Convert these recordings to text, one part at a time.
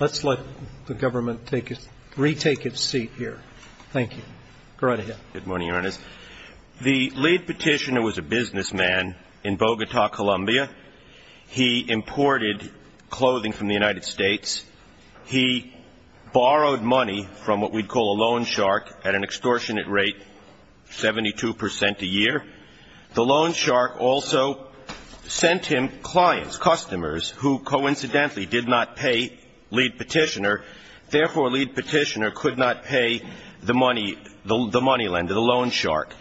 Let's let the government retake its seat here. Thank you. Go right ahead. Good morning, Your Honors. The lead petitioner was a businessman in Bogota, Colombia. He imported clothing from the United States. He borrowed money from what we'd call a loan shark at an extortionate rate, 72 percent a year. The loan shark also sent him clients, customers, who coincidentally did not pay lead petitioner. Therefore, lead petitioner could not pay the money, the money lender, the loan shark.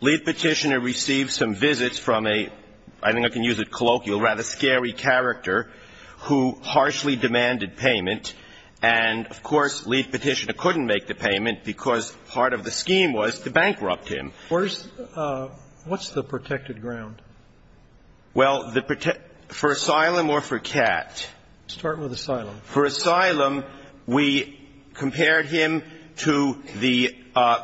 Lead petitioner received some visits from a, I think I can use it colloquial, rather scary character who harshly demanded payment. And, of course, lead petitioner couldn't make the payment because part of the scheme was to bankrupt him. Where's the – what's the protected ground? Well, the – for asylum or for cat? Start with asylum. For asylum, we compared him to the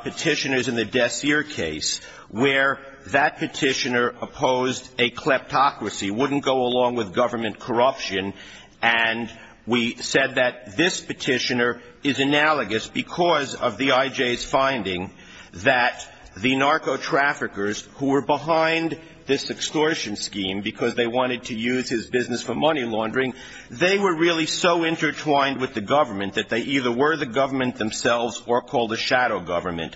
petitioners in the Dessier case, where that petitioner opposed a kleptocracy, wouldn't go along with government corruption. And we said that this petitioner is analogous because of the IJ's finding that the narco-traffickers who were behind this extortion scheme because they wanted to use his business for money laundering, they were really so intertwined with the government that they either were the government themselves or called a shadow government.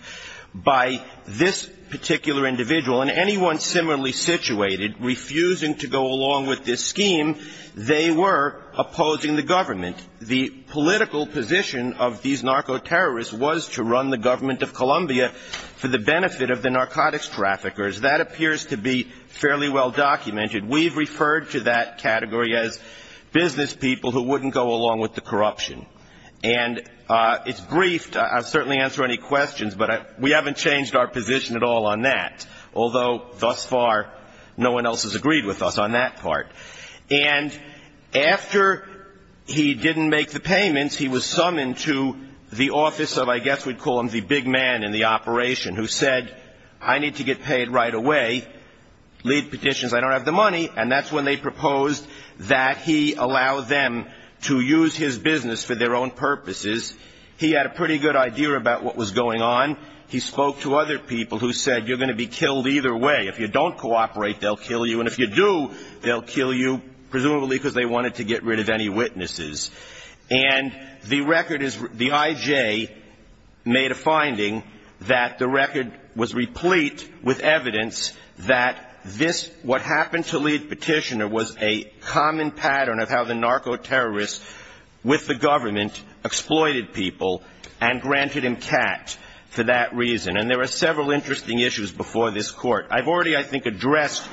By this particular individual, and anyone similarly situated, refusing to go along with this scheme, they were opposing the government. The political position of these narco-terrorists was to run the government of Colombia for the benefit of the narcotics traffickers. That appears to be fairly well documented. We've referred to that category as business people who wouldn't go along with the corruption. And it's briefed. I'll certainly answer any questions, but we haven't changed our position at all on that. Although, thus far, no one else has agreed with us on that part. And after he didn't make the payments, he was summoned to the office of, I guess we'd call him the big man in the operation, who said, I need to get paid right away, leave petitions, I don't have the money. And that's when they proposed that he allow them to use his business for their own purposes. He had a pretty good idea about what was going on. He spoke to other people who said, you're going to be killed either way. If you don't cooperate, they'll kill you. And if you do, they'll kill you, presumably because they wanted to get rid of any witnesses. And the record is, the I.J. made a finding that the record was replete with evidence that this, what happened to Lee Petitioner, was a common pattern of how the narco-terrorists with the government exploited people and granted him cat for that reason. And there were several interesting issues before this Court. I've already, I think, addressed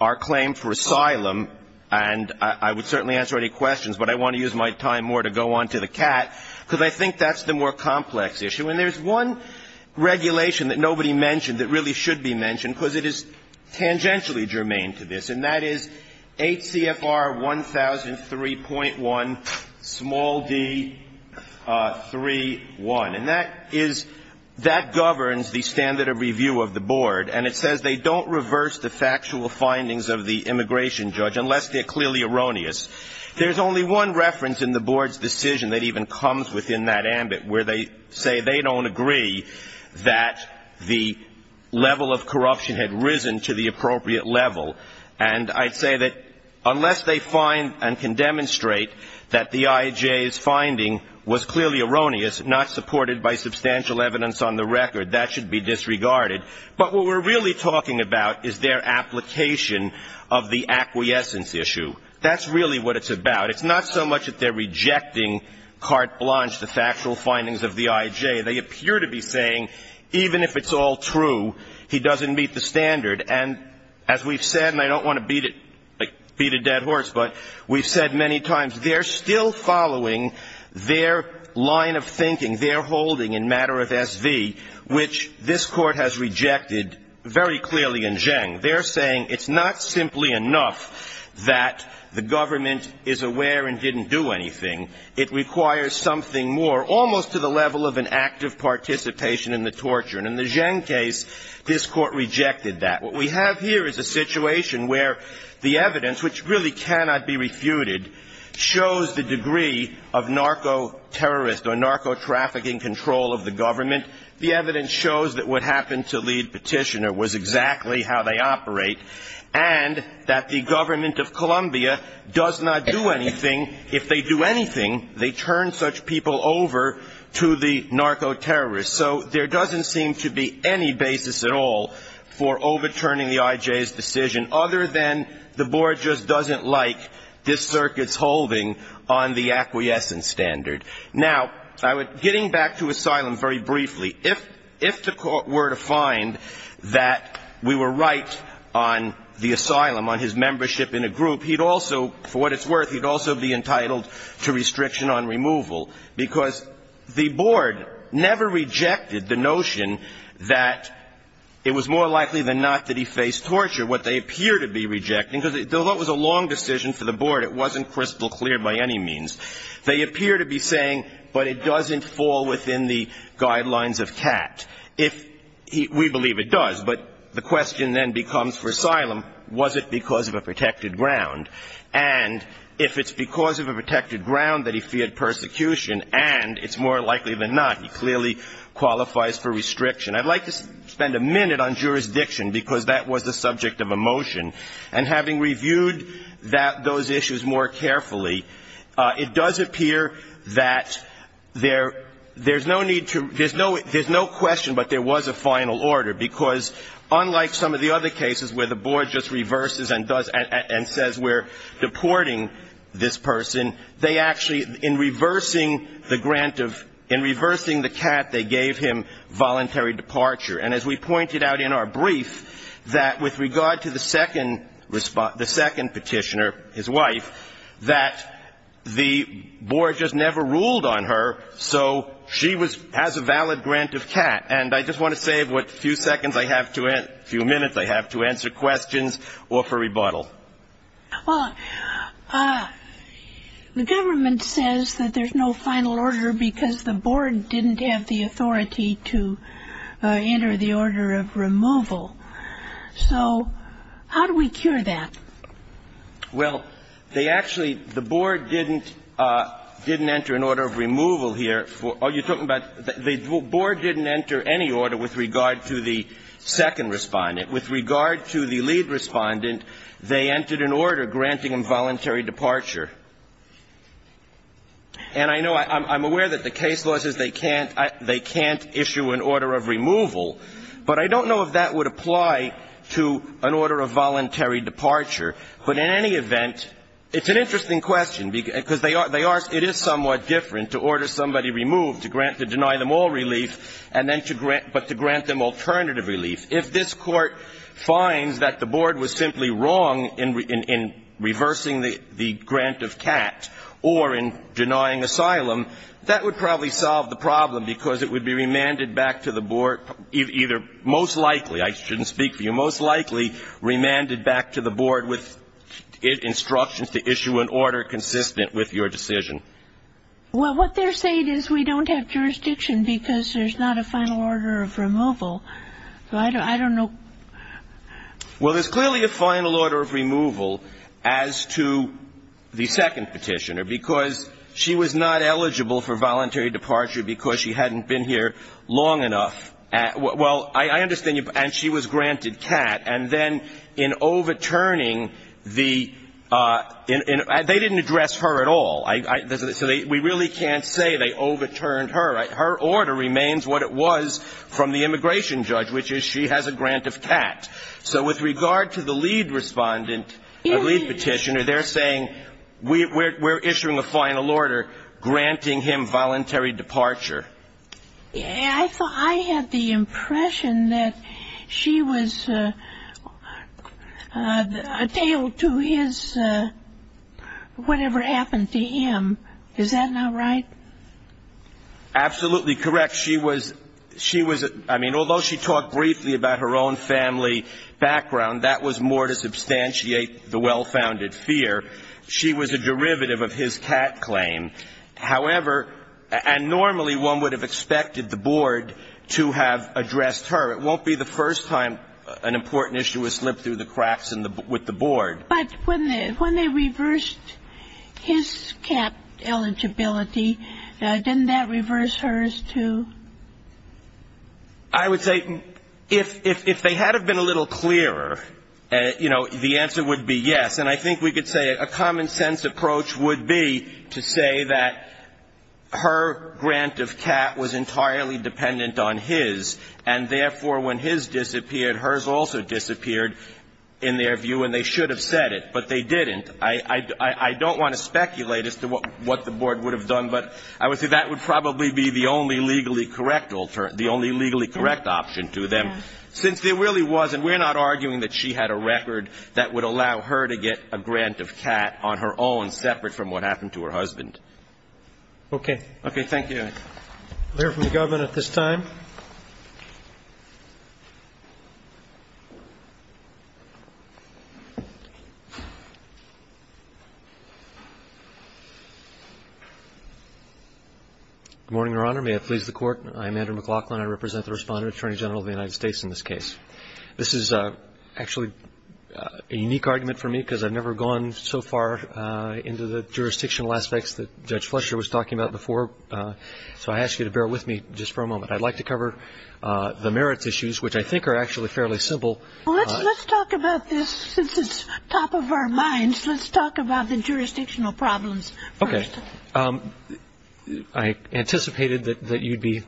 our claim for asylum, and I would certainly answer any questions. But I want to use my time more to go on to the cat, because I think that's the more complex issue. And there's one regulation that nobody mentioned that really should be mentioned, because it is tangentially germane to this. And that is 8 CFR 1003.1, small d, 3.1. And that is, that governs the standard of review of the Board. And it says they don't reverse the factual findings of the immigration judge, unless they're clearly erroneous. There's only one reference in the Board's decision that even comes within that ambit, where they say they don't agree that the level of corruption had risen to the appropriate level. And I'd say that unless they find and can demonstrate that the I.J.'s finding was clearly erroneous, not supported by substantial evidence on the record, that should be disregarded. But what we're really talking about is their application of the acquiescence issue. That's really what it's about. It's not so much that they're rejecting carte blanche, the factual findings of the I.J. They appear to be saying even if it's all true, he doesn't meet the standard. And as we've said, and I don't want to beat it, like beat a dead horse, but we've said many times, they're still following their line of thinking, their holding in matter of S.V., which this Court has rejected very clearly in Zheng. They're saying it's not simply enough that the government is aware and didn't do anything. It requires something more, almost to the level of an act of participation in the torture. And in the Zheng case, this Court rejected that. What we have here is a situation where the evidence, which really cannot be refuted, shows the degree of narco-terrorist or narco-trafficking control of the government. And the evidence shows that what happened to Lead Petitioner was exactly how they operate and that the government of Columbia does not do anything. If they do anything, they turn such people over to the narco-terrorists. So there doesn't seem to be any basis at all for overturning the I.J.'s decision, other than the Board just doesn't like this circuit's holding on the acquiescence standard. Now, getting back to asylum very briefly, if the Court were to find that we were right on the asylum, on his membership in a group, he'd also, for what it's worth, he'd also be entitled to restriction on removal because the Board never rejected the notion that it was more likely than not that he faced torture. What they appear to be rejecting, because it was a long decision for the Board. It wasn't crystal clear by any means. They appear to be saying, but it doesn't fall within the guidelines of Catt. We believe it does, but the question then becomes for asylum, was it because of a protected ground? And if it's because of a protected ground that he feared persecution and it's more likely than not, he clearly qualifies for restriction. I'd like to spend a minute on jurisdiction because that was the subject of a motion. And having reviewed those issues more carefully, it does appear that there's no need to, there's no question but there was a final order, because unlike some of the other cases where the Board just reverses and says we're deporting this person, they actually, in reversing the grant of, in reversing the Catt, they gave him voluntary departure. And as we pointed out in our brief, that with regard to the second petitioner, his wife, that the Board just never ruled on her, so she has a valid grant of Catt. And I just want to save what few seconds I have to, few minutes I have to answer questions or for rebuttal. Well, the government says that there's no final order because the Board didn't have the authority to enter the order of removal. So how do we cure that? Well, they actually, the Board didn't enter an order of removal here. Are you talking about, the Board didn't enter any order with regard to the second respondent. With regard to the lead respondent, they entered an order granting him voluntary departure. And I know, I'm aware that the case law says they can't, they can't issue an order of removal, but I don't know if that would apply to an order of voluntary departure. But in any event, it's an interesting question, because they are, it is somewhat different to order somebody removed, to grant, to deny them all relief, and then to grant, but to grant them alternative relief. If this Court finds that the Board was simply wrong in reversing the grant of CAT or in denying asylum, that would probably solve the problem, because it would be remanded back to the Board, either most likely, I shouldn't speak for you, most likely remanded back to the Board with instructions to issue an order consistent with your decision. Well, what they're saying is we don't have jurisdiction because there's not a final order of removal. So I don't know. Well, there's clearly a final order of removal as to the second Petitioner, because she was not eligible for voluntary departure because she hadn't been here long enough. Well, I understand you, and she was granted CAT. And then in overturning the – they didn't address her at all. So we really can't say they overturned her. Her order remains what it was from the immigration judge, which is she has a grant of CAT. So with regard to the lead Respondent, the lead Petitioner, they're saying we're issuing a final order granting him voluntary departure. I had the impression that she was attailed to his whatever happened to him. Is that not right? Absolutely correct. She was – she was – I mean, although she talked briefly about her own family background, that was more to substantiate the well-founded fear. She was a derivative of his CAT claim. However – and normally one would have expected the Board to have addressed her. It won't be the first time an important issue has slipped through the cracks with the Board. But when they reversed his CAT eligibility, didn't that reverse hers, too? I would say if they had have been a little clearer, you know, the answer would be yes. And I think we could say a common-sense approach would be to say that her grant of CAT was entirely dependent on his, and therefore when his disappeared, hers also disappeared in their view, and they should have said it. But they didn't. I don't want to speculate as to what the Board would have done, but I would say that would probably be the only legally correct – the only legally correct option to them, since there really was – and we're not arguing that she had a record that would allow her to get a grant of CAT on her own, separate from what happened to her husband. Okay. Okay. Thank you. I'll hear from the government at this time. Good morning, Your Honor. May it please the Court. I'm Andrew McLaughlin. I represent the Respondent Attorney General of the United States in this case. This is actually a unique argument for me because I've never gone so far into the jurisdictional aspects that Judge Fletcher was talking about before, so I ask you to bear with me just for a moment. I'd like to cover the merits issues, which I think are actually fairly simple. Well, let's talk about this since it's top of our minds. Let's talk about the jurisdictional problems first. Okay. I anticipated that you'd be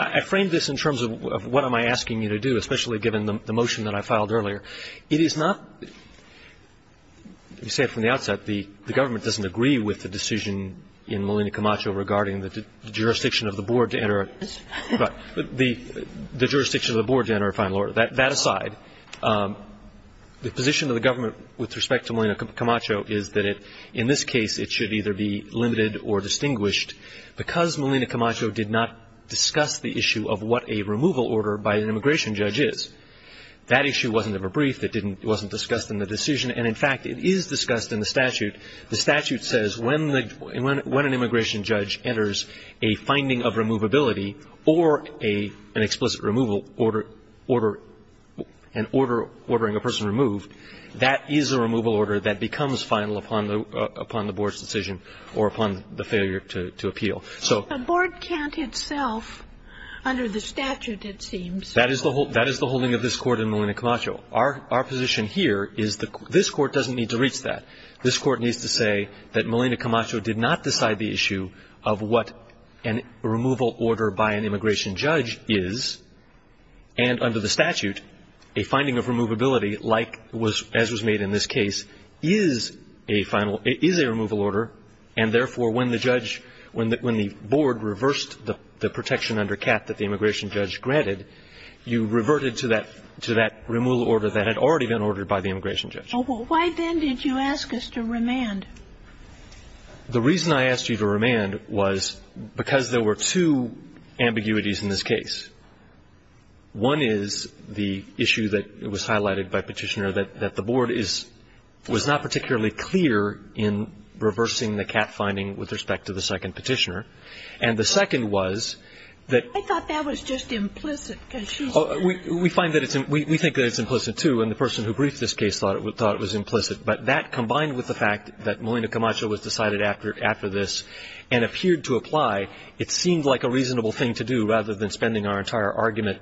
– I framed this in terms of what am I asking you to do, especially given the motion that I filed earlier. It is not – you said from the outset the government doesn't agree with the decision in Molina Camacho regarding the jurisdiction of the board to enter a – the jurisdiction of the board to enter a final order. That aside, the position of the government with respect to Molina Camacho is that in this case, it should either be limited or distinguished. Because Molina Camacho did not discuss the issue of what a removal order by an immigration judge is, that issue wasn't ever briefed. It didn't – it wasn't discussed in the decision. And in fact, it is discussed in the statute. The statute says when the – when an immigration judge enters a finding of removability or a – an explicit removal order – order – an order ordering a person removed, that is a removal order that becomes final upon the – upon the board's decision or upon the failure to – to appeal. So – But the board can't itself under the statute, it seems. That is the – that is the holding of this Court in Molina Camacho. Our – our position here is the – this Court doesn't need to reach that. This Court needs to say that Molina Camacho did not decide the issue of what a removal order by an immigration judge is. And under the statute, a finding of removability, like – as was made in this case, is a final – is a removal order. And therefore, when the judge – when the – when the board reversed the protection under CAP that the immigration judge granted, you reverted to that – to that removal order that had already been ordered by the immigration judge. Oh, well, why then did you ask us to remand? The reason I asked you to remand was because there were two ambiguities in this case. One is the issue that was highlighted by Petitioner, that – that the board is – was not particularly clear in reversing the CAP finding with respect to the second Petitioner. And the second was that – I thought that was just implicit, because she's – We find that it's – we think that it's implicit, too, and the person who briefed this case thought it was – thought it was implicit. But that, combined with the fact that Molina Camacho was decided after – after this and appeared to apply, it seemed like a reasonable thing to do, rather than spending our entire argument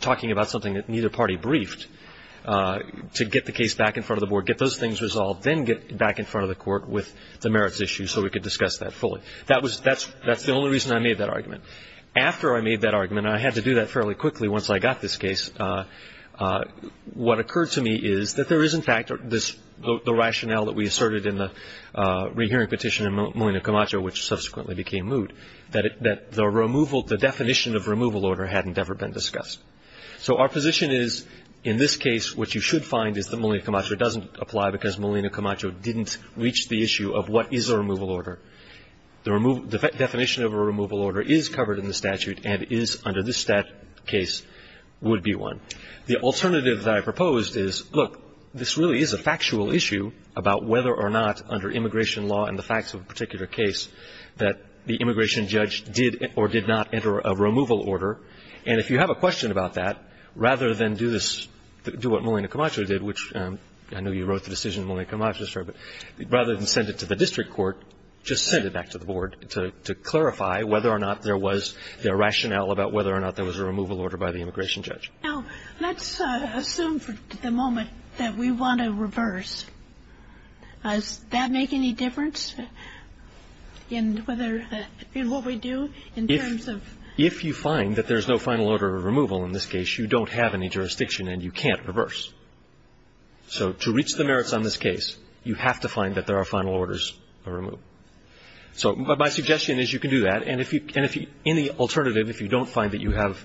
talking about something that neither party briefed, to get the case back in front of the board, get those things resolved, then get back in front of the court with the merits issue so we could discuss that fully. That was – that's – that's the only reason I made that argument. After I made that argument, and I had to do that fairly quickly once I got this case, what occurred to me is that there is, in fact, this – the rationale that we asserted in the rehearing petition in Molina Camacho, which subsequently became moved, that it – that the removal – the definition of removal order hadn't ever been discussed. So our position is, in this case, what you should find is that Molina Camacho doesn't apply because Molina Camacho didn't reach the issue of what is a removal order. The definition of a removal order is covered in the statute and is, under this case, would be one. The alternative that I proposed is, look, this really is a factual issue about whether or not, under immigration law and the facts of a particular case, that the immigration judge did or did not enter a removal order. And if you have a question about that, rather than do this – do what Molina Camacho did, which I know you wrote the decision in Molina Camacho's favor, but rather than send it to the district court, just send it back to the Board to clarify whether or not there was the rationale about whether or not there was a removal order by the immigration judge. Now, let's assume for the moment that we want to reverse. Does that make any difference in whether – in what we do in terms of – if you find that there's no final order of removal in this case, you don't have any jurisdiction and you can't reverse. So to reach the merits on this case, you have to find that there are final orders of removal. So my suggestion is you can do that. And if you – and if you – in the alternative, if you don't find that you have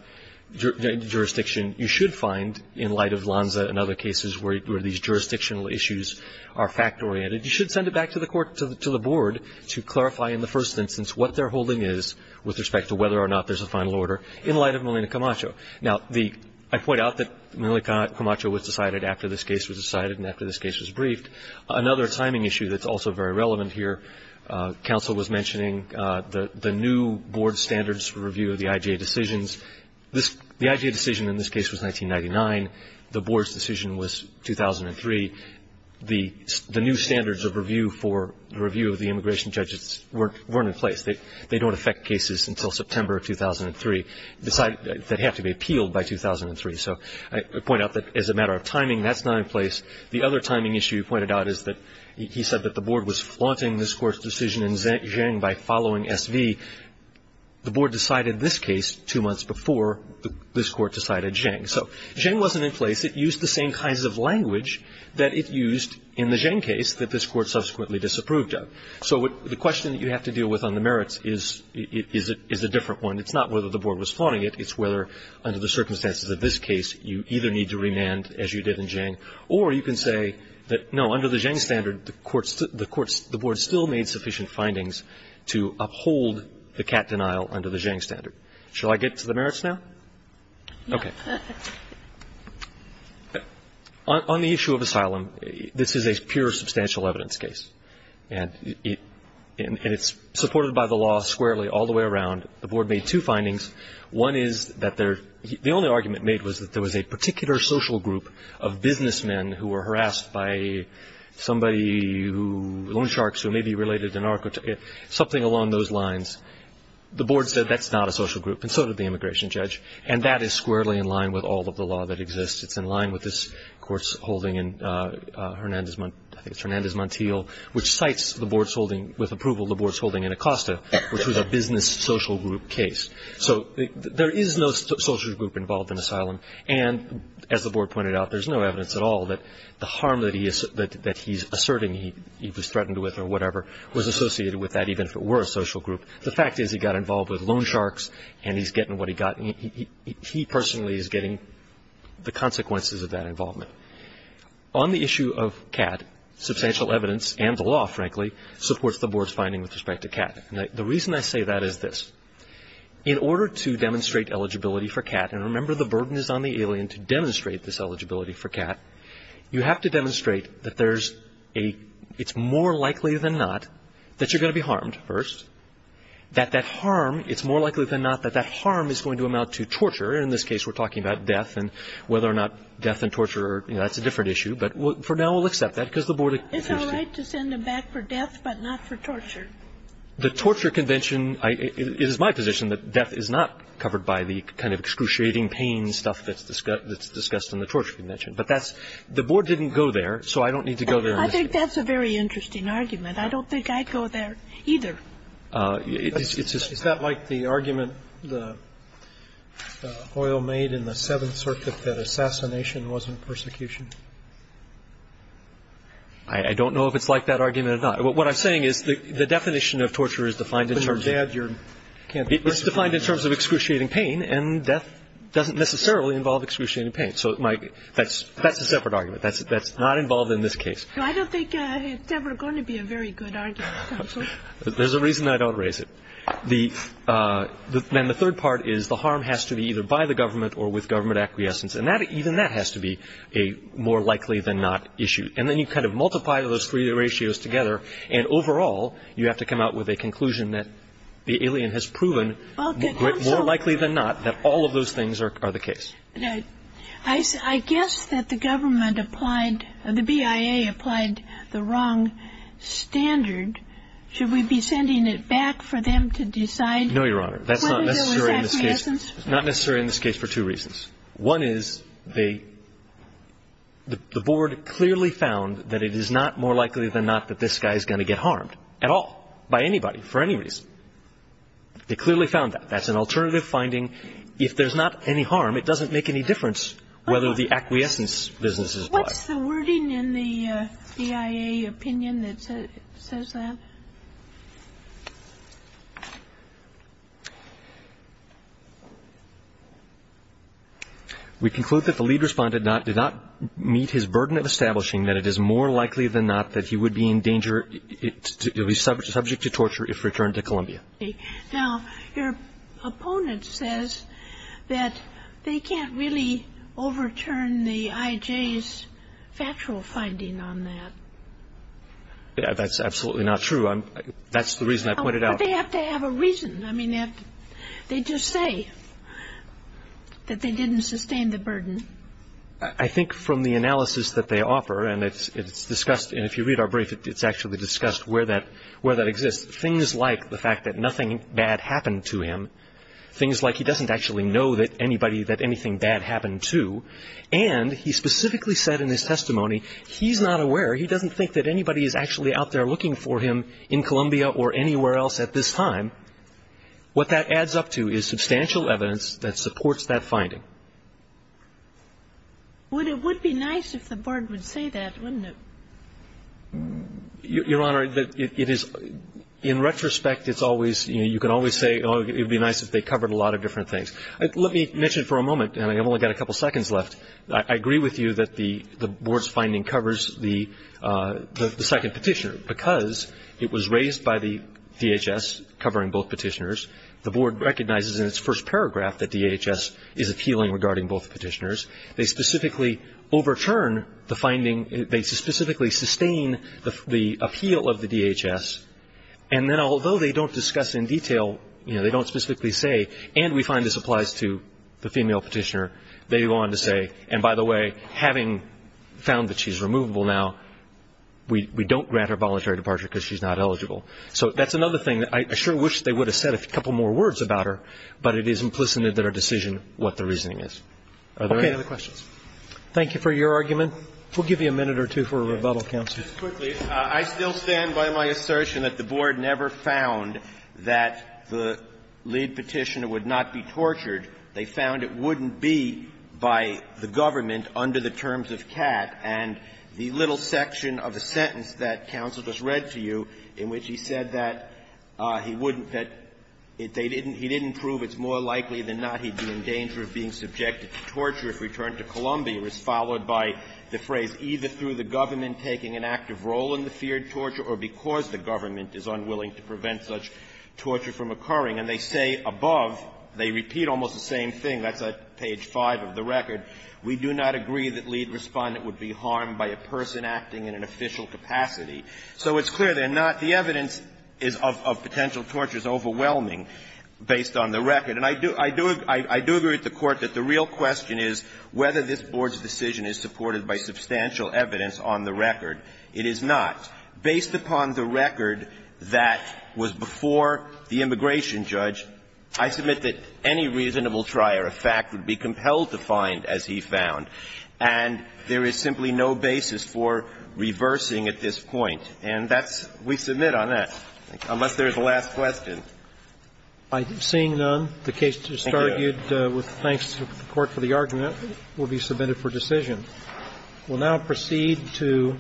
jurisdiction, you should find, in light of Lanza and other cases where these jurisdictional issues are fact-oriented, you should send it back to the court – to the Board to clarify in the first instance what their holding is with respect to whether or not there's a final order in light of Molina Camacho. Now, the – I point out that Molina Camacho was decided after this case was decided and after this case was briefed. Another timing issue that's also very relevant here, counsel was mentioning the new Board standards review of the IJA decisions. The IJA decision in this case was 1999. The Board's decision was 2003. The new standards of review for the review of the immigration judges weren't in place. They don't affect cases until September of 2003. They have to be appealed by 2003. So I point out that as a matter of timing, that's not in place. The other timing issue you pointed out is that he said that the Board was flaunting this Court's decision in Zheng by following SV. The Board decided this case two months before this Court decided Zheng. So Zheng wasn't in place. It used the same kinds of language that it used in the Zheng case that this Court subsequently disapproved of. So the question that you have to deal with on the merits is a different one. It's not whether the Board was flaunting it. It's whether under the circumstances of this case, you either need to remand as you did in Zheng, or you can say that, no, under the Zheng standard, the Board still made sufficient findings to uphold the cat denial under the Zheng standard. Shall I get to the merits now? Okay. On the issue of asylum, this is a pure substantial evidence case, and it's supported by the law squarely all the way around. The Board made two findings. One is that the only argument made was that there was a particular social group of businessmen who were harassed by somebody, loan sharks who may be related to narco, something along those lines. The Board said that's not a social group, and so did the immigration judge, and that is squarely in line with all of the law that exists. It's in line with this Court's holding in Hernandez Montiel, which cites the Board's holding with approval of the Board's holding in Acosta, which was a business social group case. So there is no social group involved in asylum, and as the Board pointed out, there's no evidence at all that the harm that he's asserting he was threatened with or whatever was associated with that, even if it were a social group. The fact is he got involved with loan sharks, and he's getting what he got. He personally is getting the consequences of that involvement. On the issue of CAT, substantial evidence, and the law, frankly, supports the Board's finding with respect to CAT. And the reason I say that is this. In order to demonstrate eligibility for CAT, and remember the burden is on the alien to demonstrate this eligibility for CAT, you have to demonstrate that there's a – it's more likely than not that you're going to be harmed first, that that harm – it's more likely than not that that harm is going to amount to torture. And in this case, we're talking about death and whether or not death and torture are – you know, that's a different issue. But for now, we'll accept that because the Board – It's all right to send him back for death, but not for torture. The torture convention – it is my position that death is not covered by the kind of excruciating pain stuff that's discussed in the torture convention. But that's – the Board didn't go there, so I don't need to go there. I think that's a very interesting argument. I don't think I'd go there either. Is that like the argument that Hoyle made in the Seventh Circuit that assassination wasn't persecution? I don't know if it's like that argument or not. What I'm saying is the definition of torture is defined in terms of – But you're dead. It's defined in terms of excruciating pain, and death doesn't necessarily involve excruciating pain. So that's a separate argument. That's not involved in this case. I don't think it's ever going to be a very good argument, counsel. There's a reason I don't raise it. Then the third part is the harm has to be either by the government or with government acquiescence. And even that has to be a more likely than not issue. And then you kind of multiply those three ratios together, and overall, you have to come out with a conclusion that the alien has proven more likely than not that all of those things are the case. I guess that the government applied – the BIA applied the wrong standard. Should we be sending it back for them to decide whether there was acquiescence? No, Your Honor. That's not necessary in this case. It's not necessary in this case for two reasons. One is the board clearly found that it is not more likely than not that this guy is going to get harmed at all by anybody for any reason. They clearly found that. That's an alternative finding. If there's not any harm, it doesn't make any difference whether the acquiescence business is applied. What's the wording in the BIA opinion that says that? We conclude that the lead respondent did not meet his burden of establishing that it is more likely than not that he would be in danger – subject to torture if returned to Columbia. Now, your opponent says that they can't really overturn the IJ's factual finding on that. That's absolutely not true. That's the reason I pointed out. But they have to have a reason. I mean, they just say that they didn't sustain the burden. I think from the analysis that they offer, and it's discussed – and if you read our brief, it's actually discussed where that exists. It's things like the fact that nothing bad happened to him, things like he doesn't actually know that anybody – that anything bad happened to, and he specifically said in his testimony he's not aware, he doesn't think that anybody is actually out there looking for him in Columbia or anywhere else at this time. What that adds up to is substantial evidence that supports that finding. Well, it would be nice if the Board would say that, wouldn't it? Your Honor, it is – in retrospect, it's always – you know, you can always say, oh, it would be nice if they covered a lot of different things. Let me mention for a moment, and I've only got a couple seconds left, I agree with you that the Board's finding covers the second petitioner because it was raised by the DHS covering both petitioners. The Board recognizes in its first paragraph that DHS is appealing regarding both petitioners. They specifically overturn the finding. They specifically sustain the appeal of the DHS. And then although they don't discuss in detail – you know, they don't specifically say, and we find this applies to the female petitioner, they go on to say, and by the way, having found that she's removable now, we don't grant her voluntary departure because she's not eligible. So that's another thing. I sure wish they would have said a couple more words about her, but it is implicit in their decision what the reasoning is. Are there any other questions? Roberts. Thank you for your argument. We'll give you a minute or two for a rebuttal, counsel. Kennedy. Just quickly, I still stand by my assertion that the Board never found that the lead petitioner would not be tortured. They found it wouldn't be by the government under the terms of Catt. And the little section of the sentence that counsel just read to you in which he said that he wouldn't, that they didn't – he didn't prove it's more likely than not he'd be in danger of being subjected to torture if returned to Columbia is followed by the phrase, either through the government taking an active role in the feared torture or because the government is unwilling to prevent such torture from occurring. And they say above, they repeat almost the same thing, that's at page 5 of the record, we do not agree that lead Respondent would be harmed by a person acting in an official capacity. So it's clear they're not. The evidence of potential torture is overwhelming based on the record. And I do agree with the Court that the real question is whether this Board's decision is supported by substantial evidence on the record. It is not. Based upon the record that was before the immigration judge, I submit that any reasonable trier of fact would be compelled to find, as he found. And there is simply no basis for reversing at this point. And that's – we submit on that, unless there is a last question. By seeing none, the case is argued with thanks to the Court for the argument, will be submitted for decision. We'll now proceed to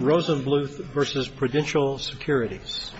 Rosenbluth v. Prudential Securities.